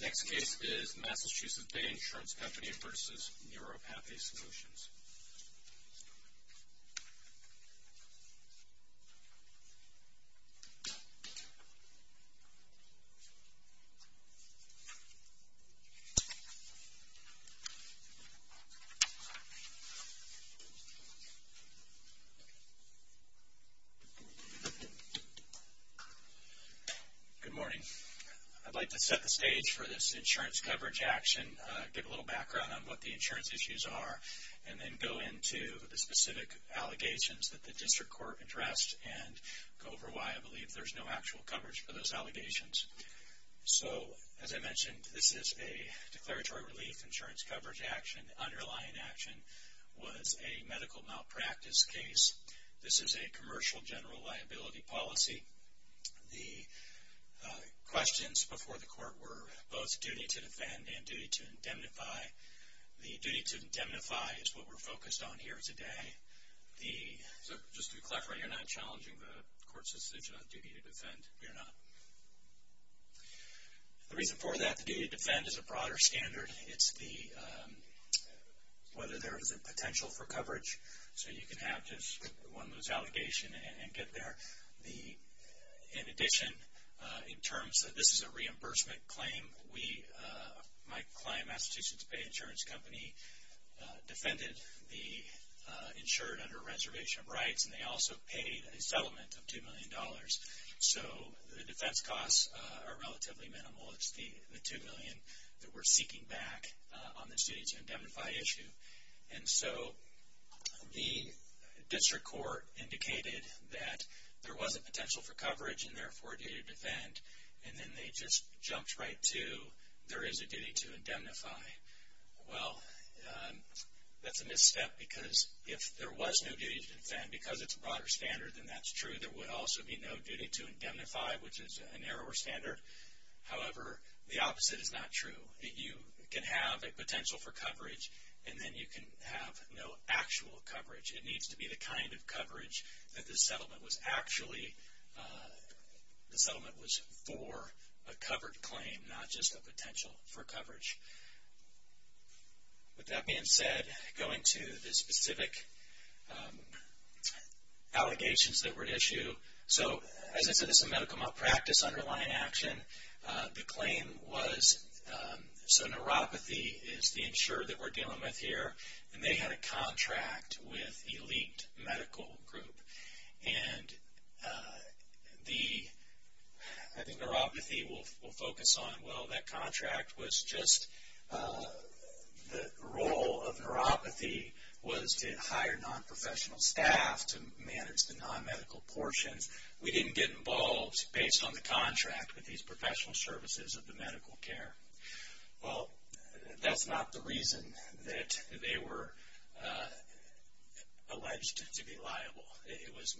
Next case is Massachusetts Bay Insurance Company v. Neuropathy Solutions. Good morning. I'd like to set the stage for this insurance coverage action, give a little background on what the insurance issues are, and then go into the specific allegations that the district court addressed and go over why I believe there's no actual coverage for those allegations. So, as I mentioned, this is a declaratory relief insurance coverage action. The underlying action was a medical malpractice case. This is a commercial general liability policy. The questions before the court were both duty to defend and duty to indemnify. The duty to indemnify is what we're focused on here today. The reason for that, the duty to defend is a broader standard. It's whether there is a potential for coverage so you can have just one loose allegation and get there. In addition, in terms that this is a reimbursement claim, my client, Massachusetts Bay Insurance Company, defended the insured under reservation of rights and they also paid a settlement of $2 million. So the defense costs are relatively minimal. It's the $2 million that we're seeking back on the duty to indemnify issue. And so the district court indicated that there wasn't potential for coverage and therefore a duty to defend. And then they just jumped right to there is a duty to indemnify. Well, that's a misstep because if there was no duty to defend, because it's a broader standard, then that's true. There would also be no duty to indemnify, which is a narrower standard. However, the opposite is not true. You can have a potential for coverage and then you can have no actual coverage. It needs to be the kind of coverage that the settlement was actually, the settlement was for a covered claim, not just a potential for coverage. With that being said, going to the specific allegations that were at issue. So as I said, this is a medical malpractice underlying action. The claim was, so neuropathy is the insured that we're dealing with here and they had a contract with elite medical group. And the, I think neuropathy will focus on, well that contract was just the role of neuropathy was to hire non-professional staff to manage the non-medical portions. We didn't get involved based on the contract with these professional services of the medical care. Well, that's not the reason that they were alleged to be liable. It was,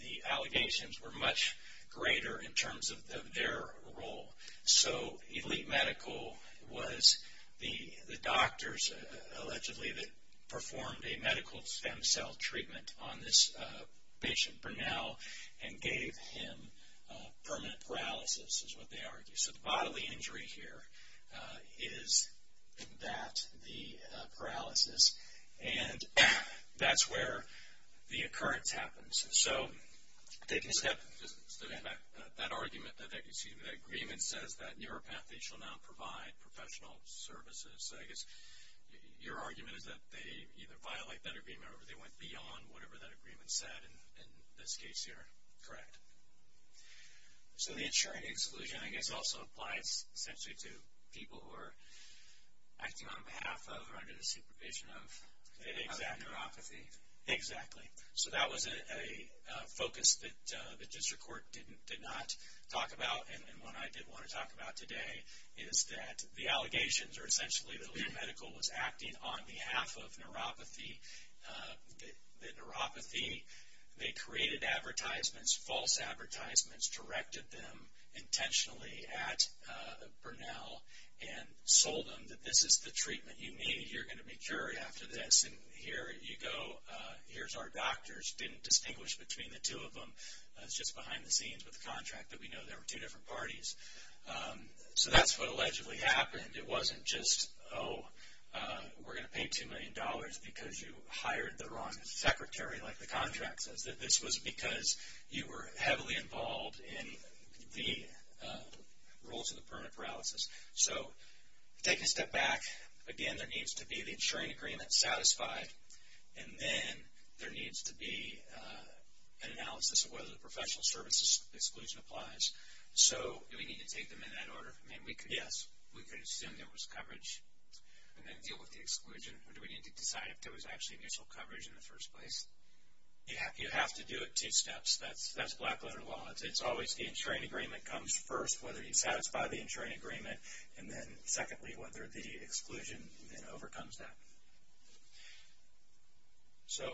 the allegations were much greater in terms of their role. So elite medical was the doctors allegedly that performed a medical stem cell treatment on this patient, Burnell, and gave him permanent paralysis is what they argue. So the bodily injury here is that, the paralysis, and that's where the occurrence happens. So, taking a step back, that argument, excuse me, that agreement says that neuropathy shall not provide professional services. I guess your argument is that they either violate that agreement or they went beyond whatever that agreement said in this case here. Correct. So the insuring exclusion, I guess, also applies essentially to people who are acting on behalf of or under the supervision of neuropathy. Exactly. So that was a focus that the district court did not talk about. And what I did want to talk about today is that the allegations are essentially that elite medical was acting on behalf of neuropathy. They created advertisements, false advertisements, directed them intentionally at Burnell and sold them that this is the treatment you need. You're going to be cured after this. And here you go, here's our doctors. Didn't distinguish between the two of them. It's just behind the scenes with the contract that we know there were two different parties. So that's what allegedly happened. It wasn't just, oh, we're going to pay $2 million because you hired the wrong secretary, like the contract says, that this was because you were heavily involved in the rules of the permanent paralysis. So take a step back. Again, there needs to be the insuring agreement satisfied. And then there needs to be an analysis of whether the professional services exclusion applies. So do we need to take them in that order? Yes. We could assume there was coverage and then deal with the exclusion. Or do we need to decide if there was actually mutual coverage in the first place? You have to do it two steps. That's black letter law. It's always the insuring agreement comes first, whether you satisfy the insuring agreement, and then secondly, whether the exclusion then overcomes that. So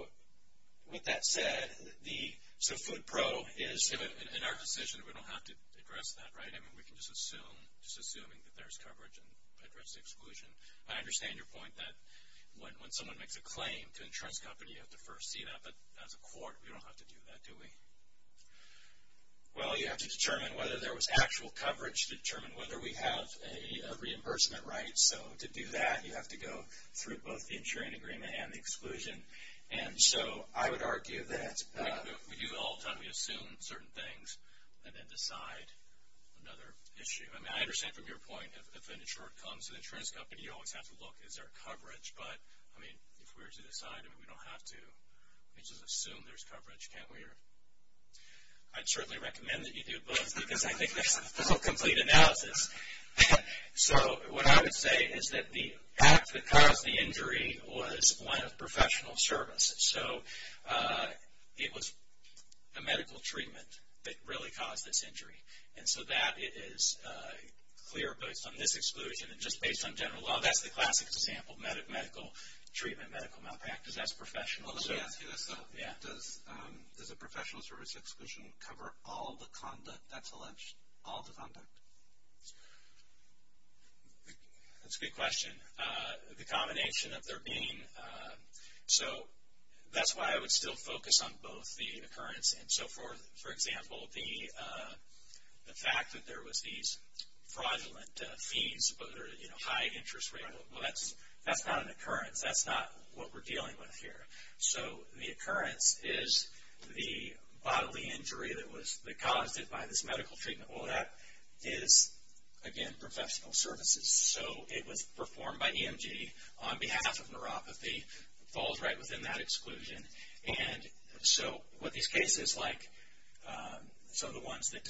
with that said, the, so food pro is. In our decision, we don't have to address that, right? I mean, we can just assume, just assuming that there's coverage and address the exclusion. I understand your point that when someone makes a claim to insurance company, you have to first see that. But as a court, we don't have to do that, do we? Well, you have to determine whether there was actual coverage to determine whether we have a reimbursement right. So to do that, you have to go through both the insuring agreement and the exclusion. And so I would argue that we do all the time. We assume certain things and then decide another issue. I mean, I understand from your point, if an insurer comes to the insurance company, you always have to look, is there coverage? But, I mean, if we were to decide, we don't have to. We just assume there's coverage, can't we? I'd certainly recommend that you do both because I think that's a full, complete analysis. So what I would say is that the act that caused the injury was one of professional service. So it was a medical treatment that really caused this injury. And so that is clear based on this exclusion and just based on general law. That's the classic example, medical treatment, medical malpractice, that's professional. Let me ask you this though. Does a professional service exclusion cover all the conduct that's alleged, all the conduct? That's a good question. The combination of there being, so that's why I would still focus on both the occurrence and so forth. For example, the fact that there was these fraudulent fees, high interest rate, well that's not an occurrence. That's not what we're dealing with here. So the occurrence is the bodily injury that caused it by this medical treatment. Well that is, again, professional services. So it was performed by EMG on behalf of neuropathy, falls right within that exclusion. And so what these cases like, some of the ones that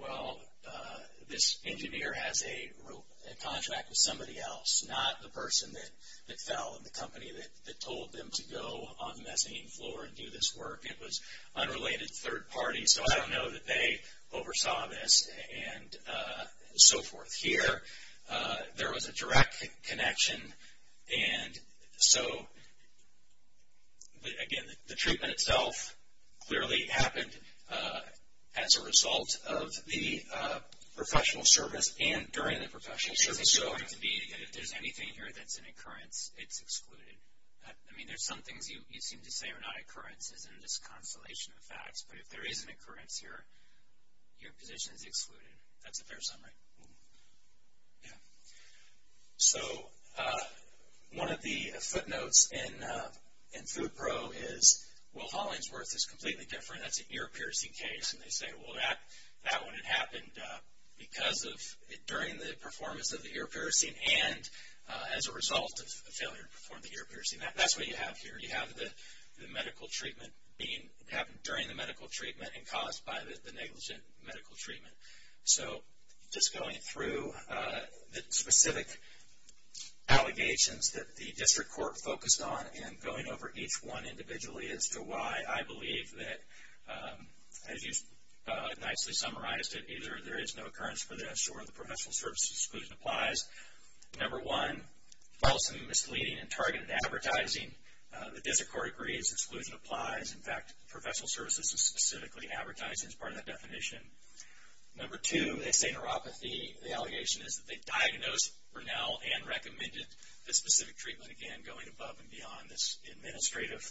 well, this engineer has a contract with somebody else, not the person that fell in the company that told them to go on the mezzanine floor and do this work. It was unrelated third party, so I don't know that they oversaw this and so forth. Here, there was a direct connection and so, again, the treatment itself clearly happened as a result of the professional service and during the professional service. Is it going to be, if there's anything here that's an occurrence, it's excluded? I mean, there's some things you seem to say are not occurrences in this constellation of facts, but if there is an occurrence here, your position is excluded. That's a fair summary. Yeah. So one of the footnotes in FoodPro is, well, Hollingsworth is completely different. That's an ear piercing case. And they say, well, that one had happened because of, during the performance of the ear piercing and as a result of the failure to perform the ear piercing. That's what you have here. You have the medical treatment being, it happened during the medical treatment and caused by the negligent medical treatment. So just going through the specific allegations that the district court focused on and going over each one individually as to why I believe that, as you've nicely summarized it, either there is no occurrence for this or the professional service exclusion applies. Number one, false and misleading and targeted advertising. The district court agrees exclusion applies. In fact, professional services specifically advertise as part of that definition. Number two, they say neuropathy. The allegation is that they diagnosed Burnell and recommended the specific treatment, again, going above and beyond this administrative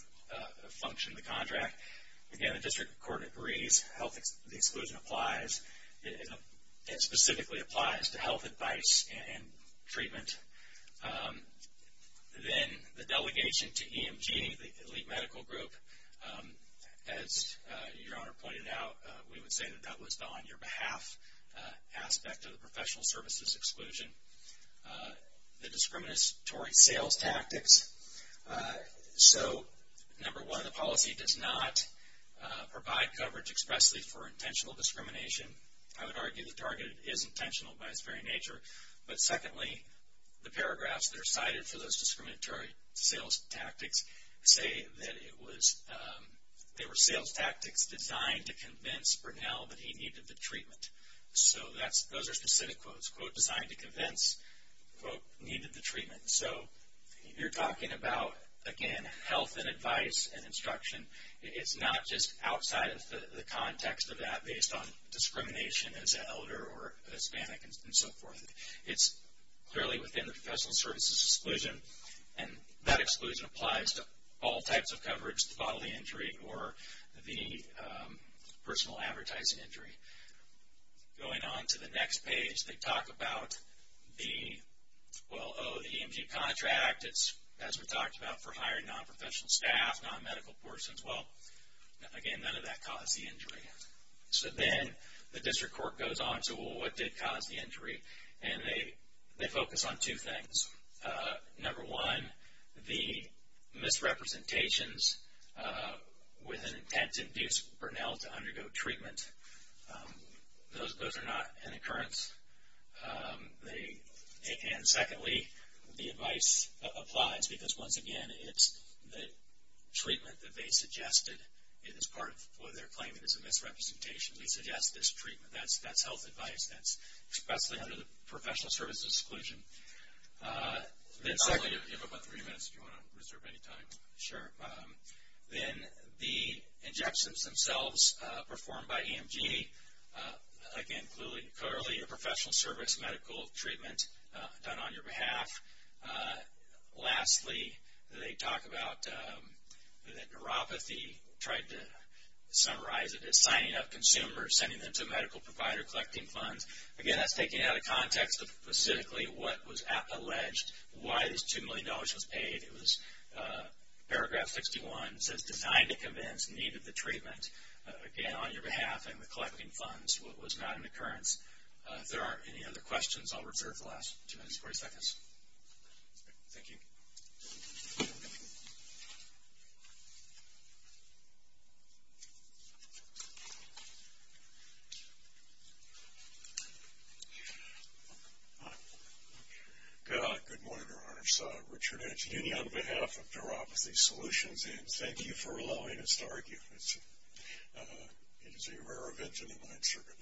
function of the contract. Again, the district court agrees health exclusion applies. It specifically applies to health advice and treatment. Then the delegation to EMG, the elite medical group, as your honor pointed out, we would say that that was on your behalf aspect of the professional services exclusion. The discriminatory sales tactics. So number one, the policy does not provide coverage expressly for intentional the paragraphs that are cited for those discriminatory sales tactics say that it was, they were sales tactics designed to convince Burnell that he needed the treatment. So that's, those are specific quotes, quote, designed to convince, quote, needed the treatment. So you're talking about, again, health and advice and instruction. It's not just outside of the context of that based on discrimination as an elder or Hispanic and so forth. It's clearly within the professional services exclusion and that exclusion applies to all types of coverage, the bodily injury or the personal advertising injury. Going on to the next page, they talk about the, well, oh, the EMG contract. It's, as we talked about, for hiring non-professional staff, non-medical persons. Well, again, none of that caused the injury. So then the district court goes on to, well, what did cause the injury? And they, they focus on two things. Number one, the misrepresentations with an intent to induce Burnell to undergo treatment. Those, those are not an occurrence. They, and secondly, the advice applies because once again, it's the treatment that they suggested. It is part of what they're claiming is a misrepresentation. They suggest this treatment. That's, that's health advice. That's expressly under the professional services exclusion. Then secondly, you have about three minutes if you want to reserve any time. Sure. Then the injections themselves performed by EMG. Again, clearly, clearly a professional service medical treatment done on your behalf. Lastly, they talk about the neuropathy. Tried to summarize it as signing up consumers, sending them to a medical provider, collecting funds. Again, that's taking out of context of specifically what was alleged, why this $2 million was paid. It was paragraph 61 says designed to convince, needed the treatment. Again, on your behalf and with collecting funds, what was not an occurrence. If there aren't any other questions, I'll reserve the last two minutes, 40 seconds. Thank you. Hi. Good morning, your honors. Richard Edge, union on behalf of neuropathy solutions and thank you for allowing us to argue. It is a rare event in the mind circuit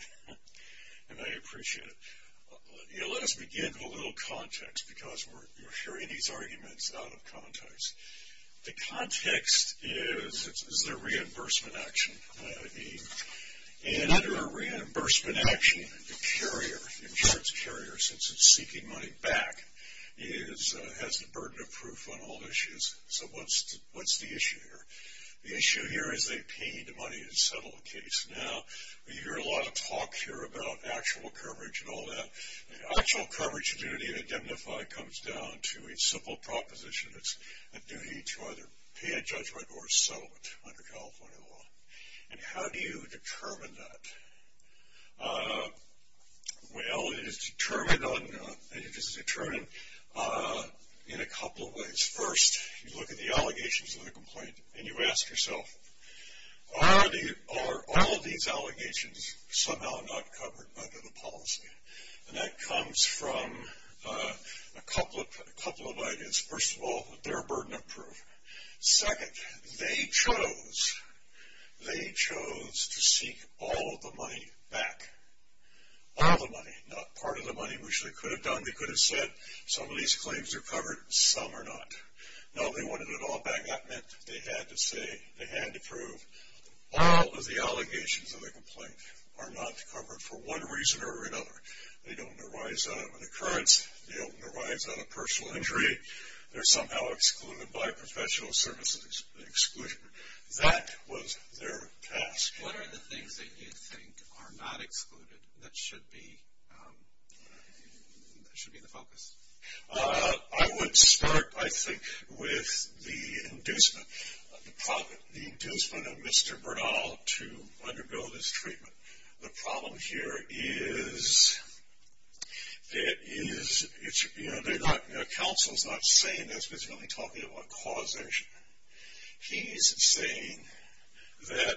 and I appreciate it. Let us begin with a little context because we're sharing these arguments out of context. The context is, is there reimbursement action? And under a reimbursement action, the carrier, insurance carrier, since it's seeking money back, has the burden of proof on all issues. So what's the issue here? The issue here is they paid the money to settle the case. Now, we hear a lot of talk here about actual coverage and all that. The actual coverage in identify comes down to a simple proposition. It's a duty to either pay a judgment or a settlement under California law. And how do you determine that? Well, it is determined in a couple of ways. First, you look at the allegations of the complaint and you ask yourself, are all these a couple of ideas? First of all, their burden of proof. Second, they chose, they chose to seek all of the money back. All the money, not part of the money, which they could have done. They could have said some of these claims are covered, some are not. No, they wanted it all back. That meant they had to say, they had to prove all of the allegations of the complaint are not covered for one reason or another. They don't arise out of an occurrence. They don't arise out of personal injury. They're somehow excluded by professional services exclusion. That was their task. What are the things that you think are not excluded that should be, should be the focus? I would start, I think, with the inducement, the inducement of Mr. Bernal to undergo this treatment. There is, there is, it's, you know, they're not, you know, counsel's not saying this, but it's really talking about causation. He's saying that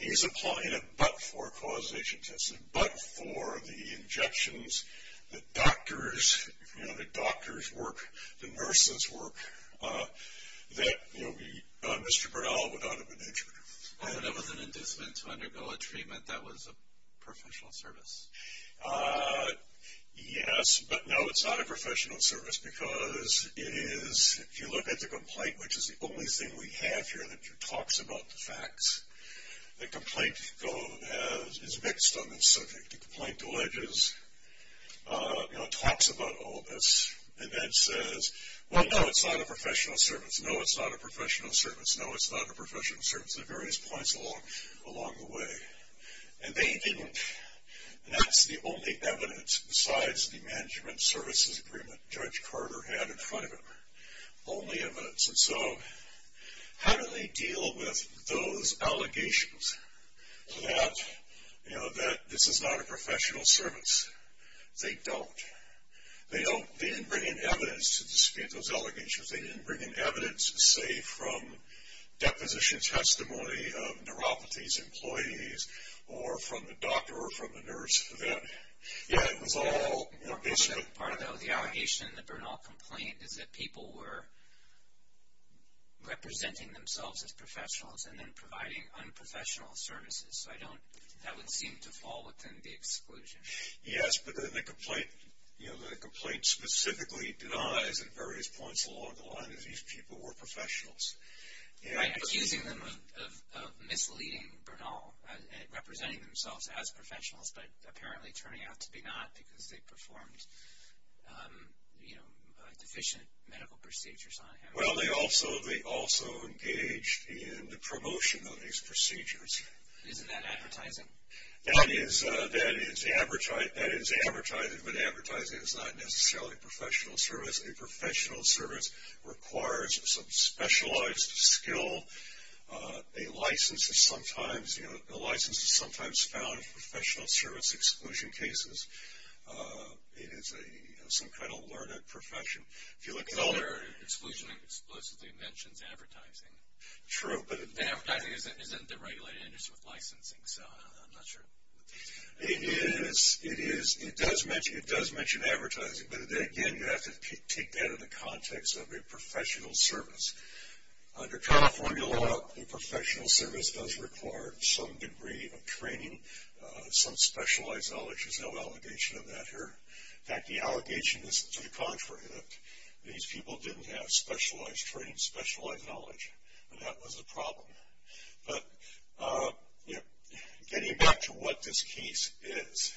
he's applying it but for causation testing, but for the injections, the doctors, you know, the doctors work, the nurses work, that, you know, Mr. Bernal would not have been injured. I thought it was an inducement to undergo a treatment that was a professional service. Yes, but no, it's not a professional service because it is, if you look at the complaint, which is the only thing we have here that talks about the facts, the complaint is mixed on this subject. The complaint alleges, you know, talks about all this and then says, well, no, it's not a professional service. No, it's not a professional service. No, it's not a professional service at various points along, along the way. And they didn't, and that's the only evidence besides the management services agreement Judge Carter had in front of him, only evidence. And so, how do they deal with those allegations that, you know, that this is not a professional service? They don't. They don't, they didn't bring in evidence, say, from deposition testimony of neuropathies employees or from the doctor or from the nurse that, yeah, it was all, you know, basically. Part of the allegation in the Bernal complaint is that people were representing themselves as professionals and then providing unprofessional services. So, I don't, that would seem to fall within the exclusion. Yes, but then the complaint, you know, the complaint specifically denies at various points along the line that these people were professionals. Right, accusing them of misleading Bernal at representing themselves as professionals, but apparently turning out to be not because they performed, you know, deficient medical procedures on him. Well, they also, they also engaged in the promotion of these procedures. Isn't that advertising? That is, that is advertising, but advertising is not necessarily a professional service. A professional service requires some specialized skill. A license is sometimes, you know, a license is sometimes found in professional service exclusion cases. It is a, you know, some kind of learned profession. If you look at all. The other exclusion explicitly mentions advertising. True, but. Advertising isn't the regulated industry with licensing, so I'm not It is, it is, it does mention, it does mention advertising, but again, you have to take that in the context of a professional service. Under California law, a professional service does require some degree of training, some specialized knowledge. There's no allegation of that here. In fact, the allegation is to the contrary, that these people didn't have specialized training, specialized knowledge, and that was the problem. But, you know, getting back to what this case is.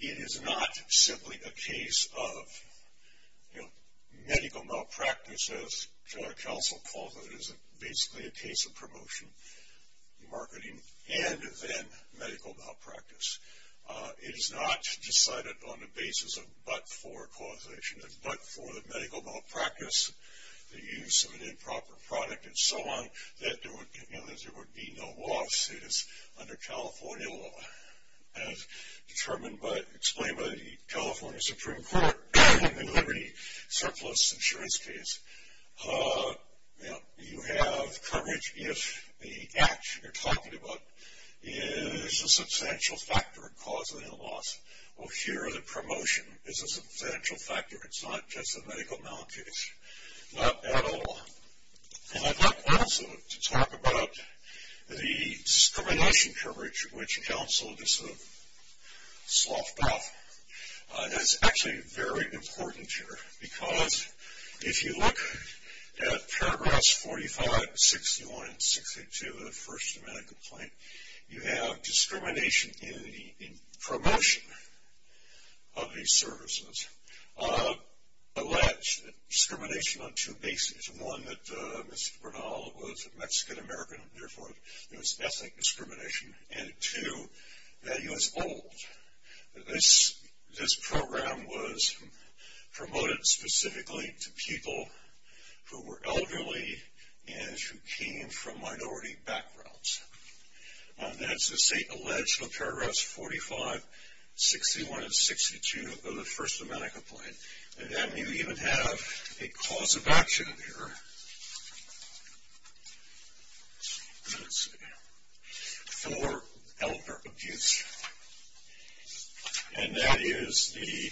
It is not simply a case of, you know, medical malpractice, as counsel calls it. It is basically a case of promotion, marketing, and then medical malpractice. It is not decided on the basis of but-for causation, but for the medical malpractice, the use of an improper product, and so on, that there would, you know, that there would be no loss. It is under California law, as determined by, explained by the California Supreme Court in the Liberty Surplus Insurance case. You know, you have coverage if the act you're talking about is a substantial factor in causing a loss. Well, here the promotion is a substantial factor. It's not just a medical malpractice, not at all. And I'd like also to talk about the discrimination coverage, which counsel just sort of sloughed off. That's actually very important here, because if you look at paragraphs 45, 61, and 62 of the First Amendment complaint, you have discrimination in the promotion of these services, alleged discrimination on two bases. One, that Mr. Bernal was Mexican-American, and therefore there was ethnic discrimination, and two, that he was old. This program was promoted specifically to people who were elderly and who came from minority backgrounds. That's, let's say, alleged in paragraphs 45, 61, and 62 of the First Amendment complaint. And then you even have a cause of action here for elder abuse, and that is the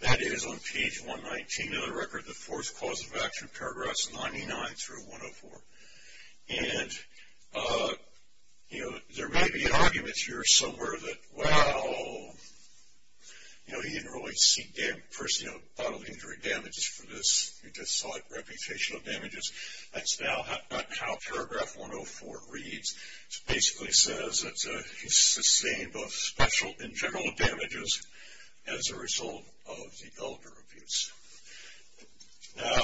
that is on page 119 of the record, the fourth cause of action, paragraphs 99 through 104. And, you know, there may be an argument here somewhere that, well, you know, he didn't really seek first, you know, bodily injury damages for this. He just sought reputational damages. That's now not how paragraph 104 reads. It basically says that he sustained both special and general damages as a result of the elder abuse. Now,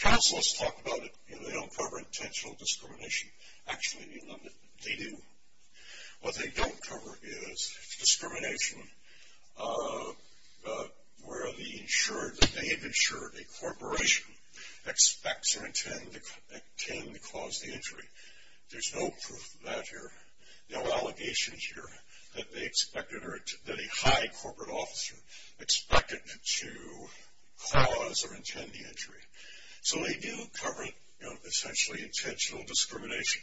counselors talk about it, you know, they don't cover intentional discrimination. Actually, they do. What they don't cover is discrimination where the insured, that they have insured a corporation expects or intend to cause the injury. There's no proof of that here. No allegations here that they expected or that a high corporate officer expected to cause or intend the injury. So, they do cover, you know, essentially intentional discrimination.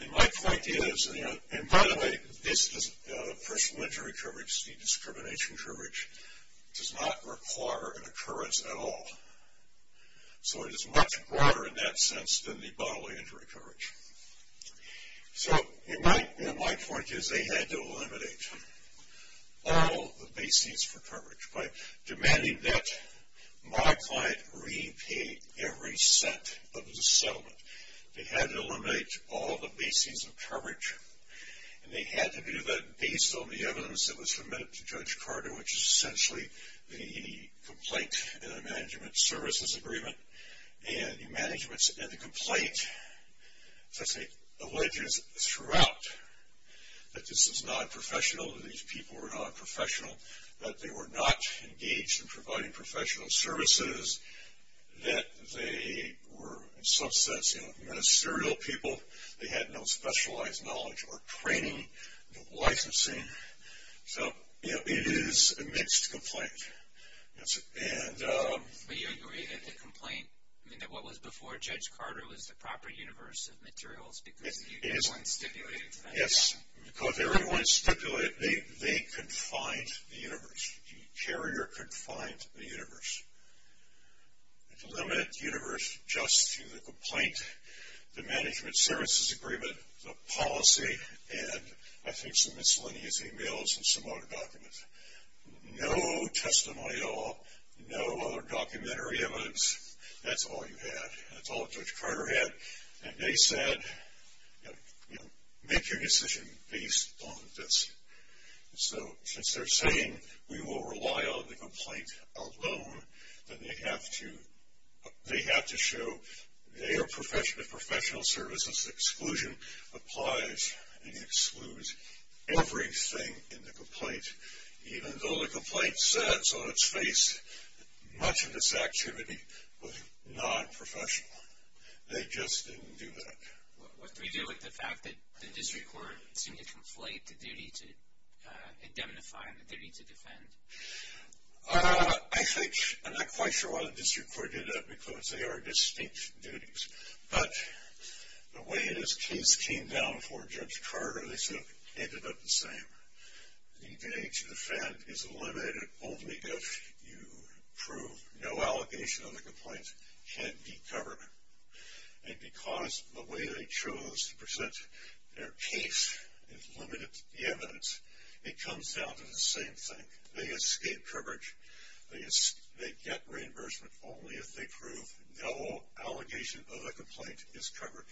And my point is, and by the way, this personal injury coverage, the discrimination coverage, does not require an occurrence at all. So, it is much broader in that sense than the bodily injury coverage. So, you know, my point is they had to eliminate all the basings for coverage. By demanding that my client repay every cent of the settlement, they had to eliminate all the basings of coverage. And they had to do that based on the evidence that was submitted to Judge Carter, which is essentially the complaint and the management services agreement. And the management and the complaint essentially alleges throughout that this is non-professional, that these people were non-professional, that they were not engaged in providing professional services, that they were in some sense, you know, ministerial people. They had no specialized knowledge or training, no licensing. So, you know, it is a mixed complaint. And... But you agree that the complaint, I mean, that what was before Judge Carter was the proper universe of materials because everyone stipulated to that? Yes, because everyone stipulated, they confined the universe. The carrier confined the universe. It's a limited universe just through the complaint, the management services agreement, the policy, and I think some miscellaneous emails and some other documents. No testimonial, no other documentary evidence. That's all you had. That's all Judge Carter had. And they said, you know, make your decision based on this. So, since they're saying we will rely on the complaint alone, then they have to show their professional services exclusion applies and excludes everything in the complaint, even though the complaint says on its face much of this activity was non-professional. They just didn't do that. What do we do with the fact that the district court seemed to conflate the duty to indemnify and the duty to defend? I think, I'm not quite sure why the district court did that because they are distinct duties. But the way this case came down for Judge Carter, they said it ended up the same. The duty to defend is eliminated only if you prove no allegation of the complaint can be covered. And because the way they chose to present their case is limited to the evidence, it comes down to the same thing. They escape coverage. They get reimbursement only if they prove no allegation of the complaint is covered.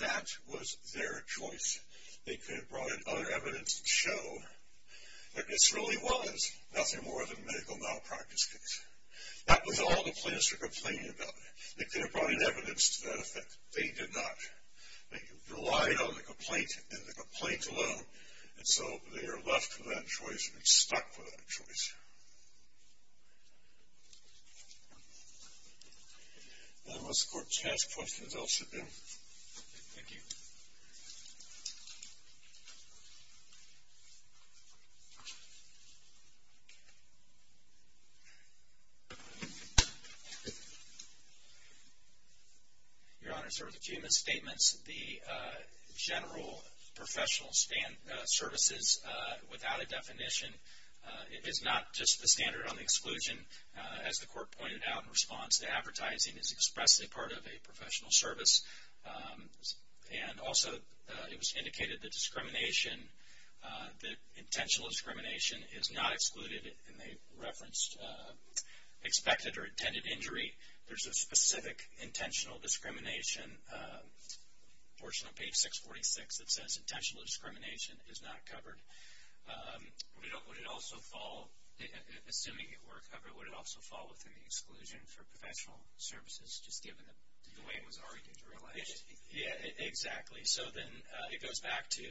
That was their choice. They could have brought in other evidence to show that this really was nothing more than a medical malpractice case. That was all the plaintiffs were complaining about. They could have brought in evidence to that effect. They did not. They relied on the complaint and the complaint alone. And so, they are left with that choice. They are stuck with that choice. Unless the court has questions, I'll sit down. Thank you. Your Honor, as far as the statements, the general professional services without a definition is not just the standard on exclusion. As the court pointed out in response to advertising, it is expressly part of a professional service. And also, it was indicated that discrimination, that intentional discrimination is not excluded. And they referenced expected or intended injury. There's a specific intentional discrimination portion of page 646 that says intentional discrimination is not covered. Would it also fall, assuming it were covered, would it also fall within the exclusion for professional services just given the way it was already generalized? Yeah, exactly. So, then it goes back to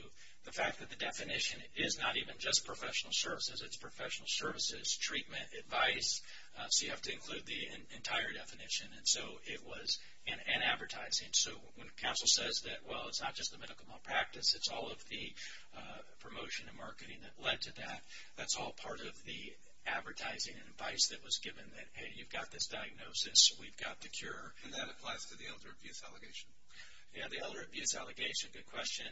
the fact that the definition is not even just professional services. It's professional services, treatment, advice. So, you have to include the entire definition. And so, it was an advertising. So, when counsel says that, well, it's not just the medical malpractice. It's all of the promotion and marketing that led to that. That's all part of the advertising and advice that was given that, hey, you've got this diagnosis. We've got the cure. And that applies to the elder abuse allegation? Yeah, the elder abuse allegation. Good question.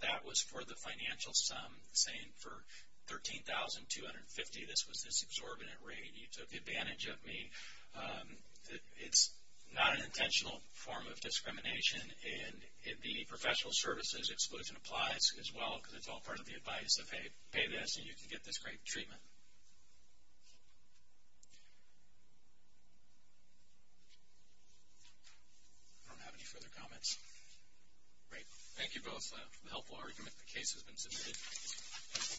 That was for the financial sum saying for $13,250, this was this exorbitant rate. You took advantage of me. It's not an intentional form of discrimination. And the professional services exclusion applies as well because it's all part of the advice of, hey, pay this, and you can get this great treatment. I don't have any further comments. Great. Thank you both for the helpful argument. The case has been submitted.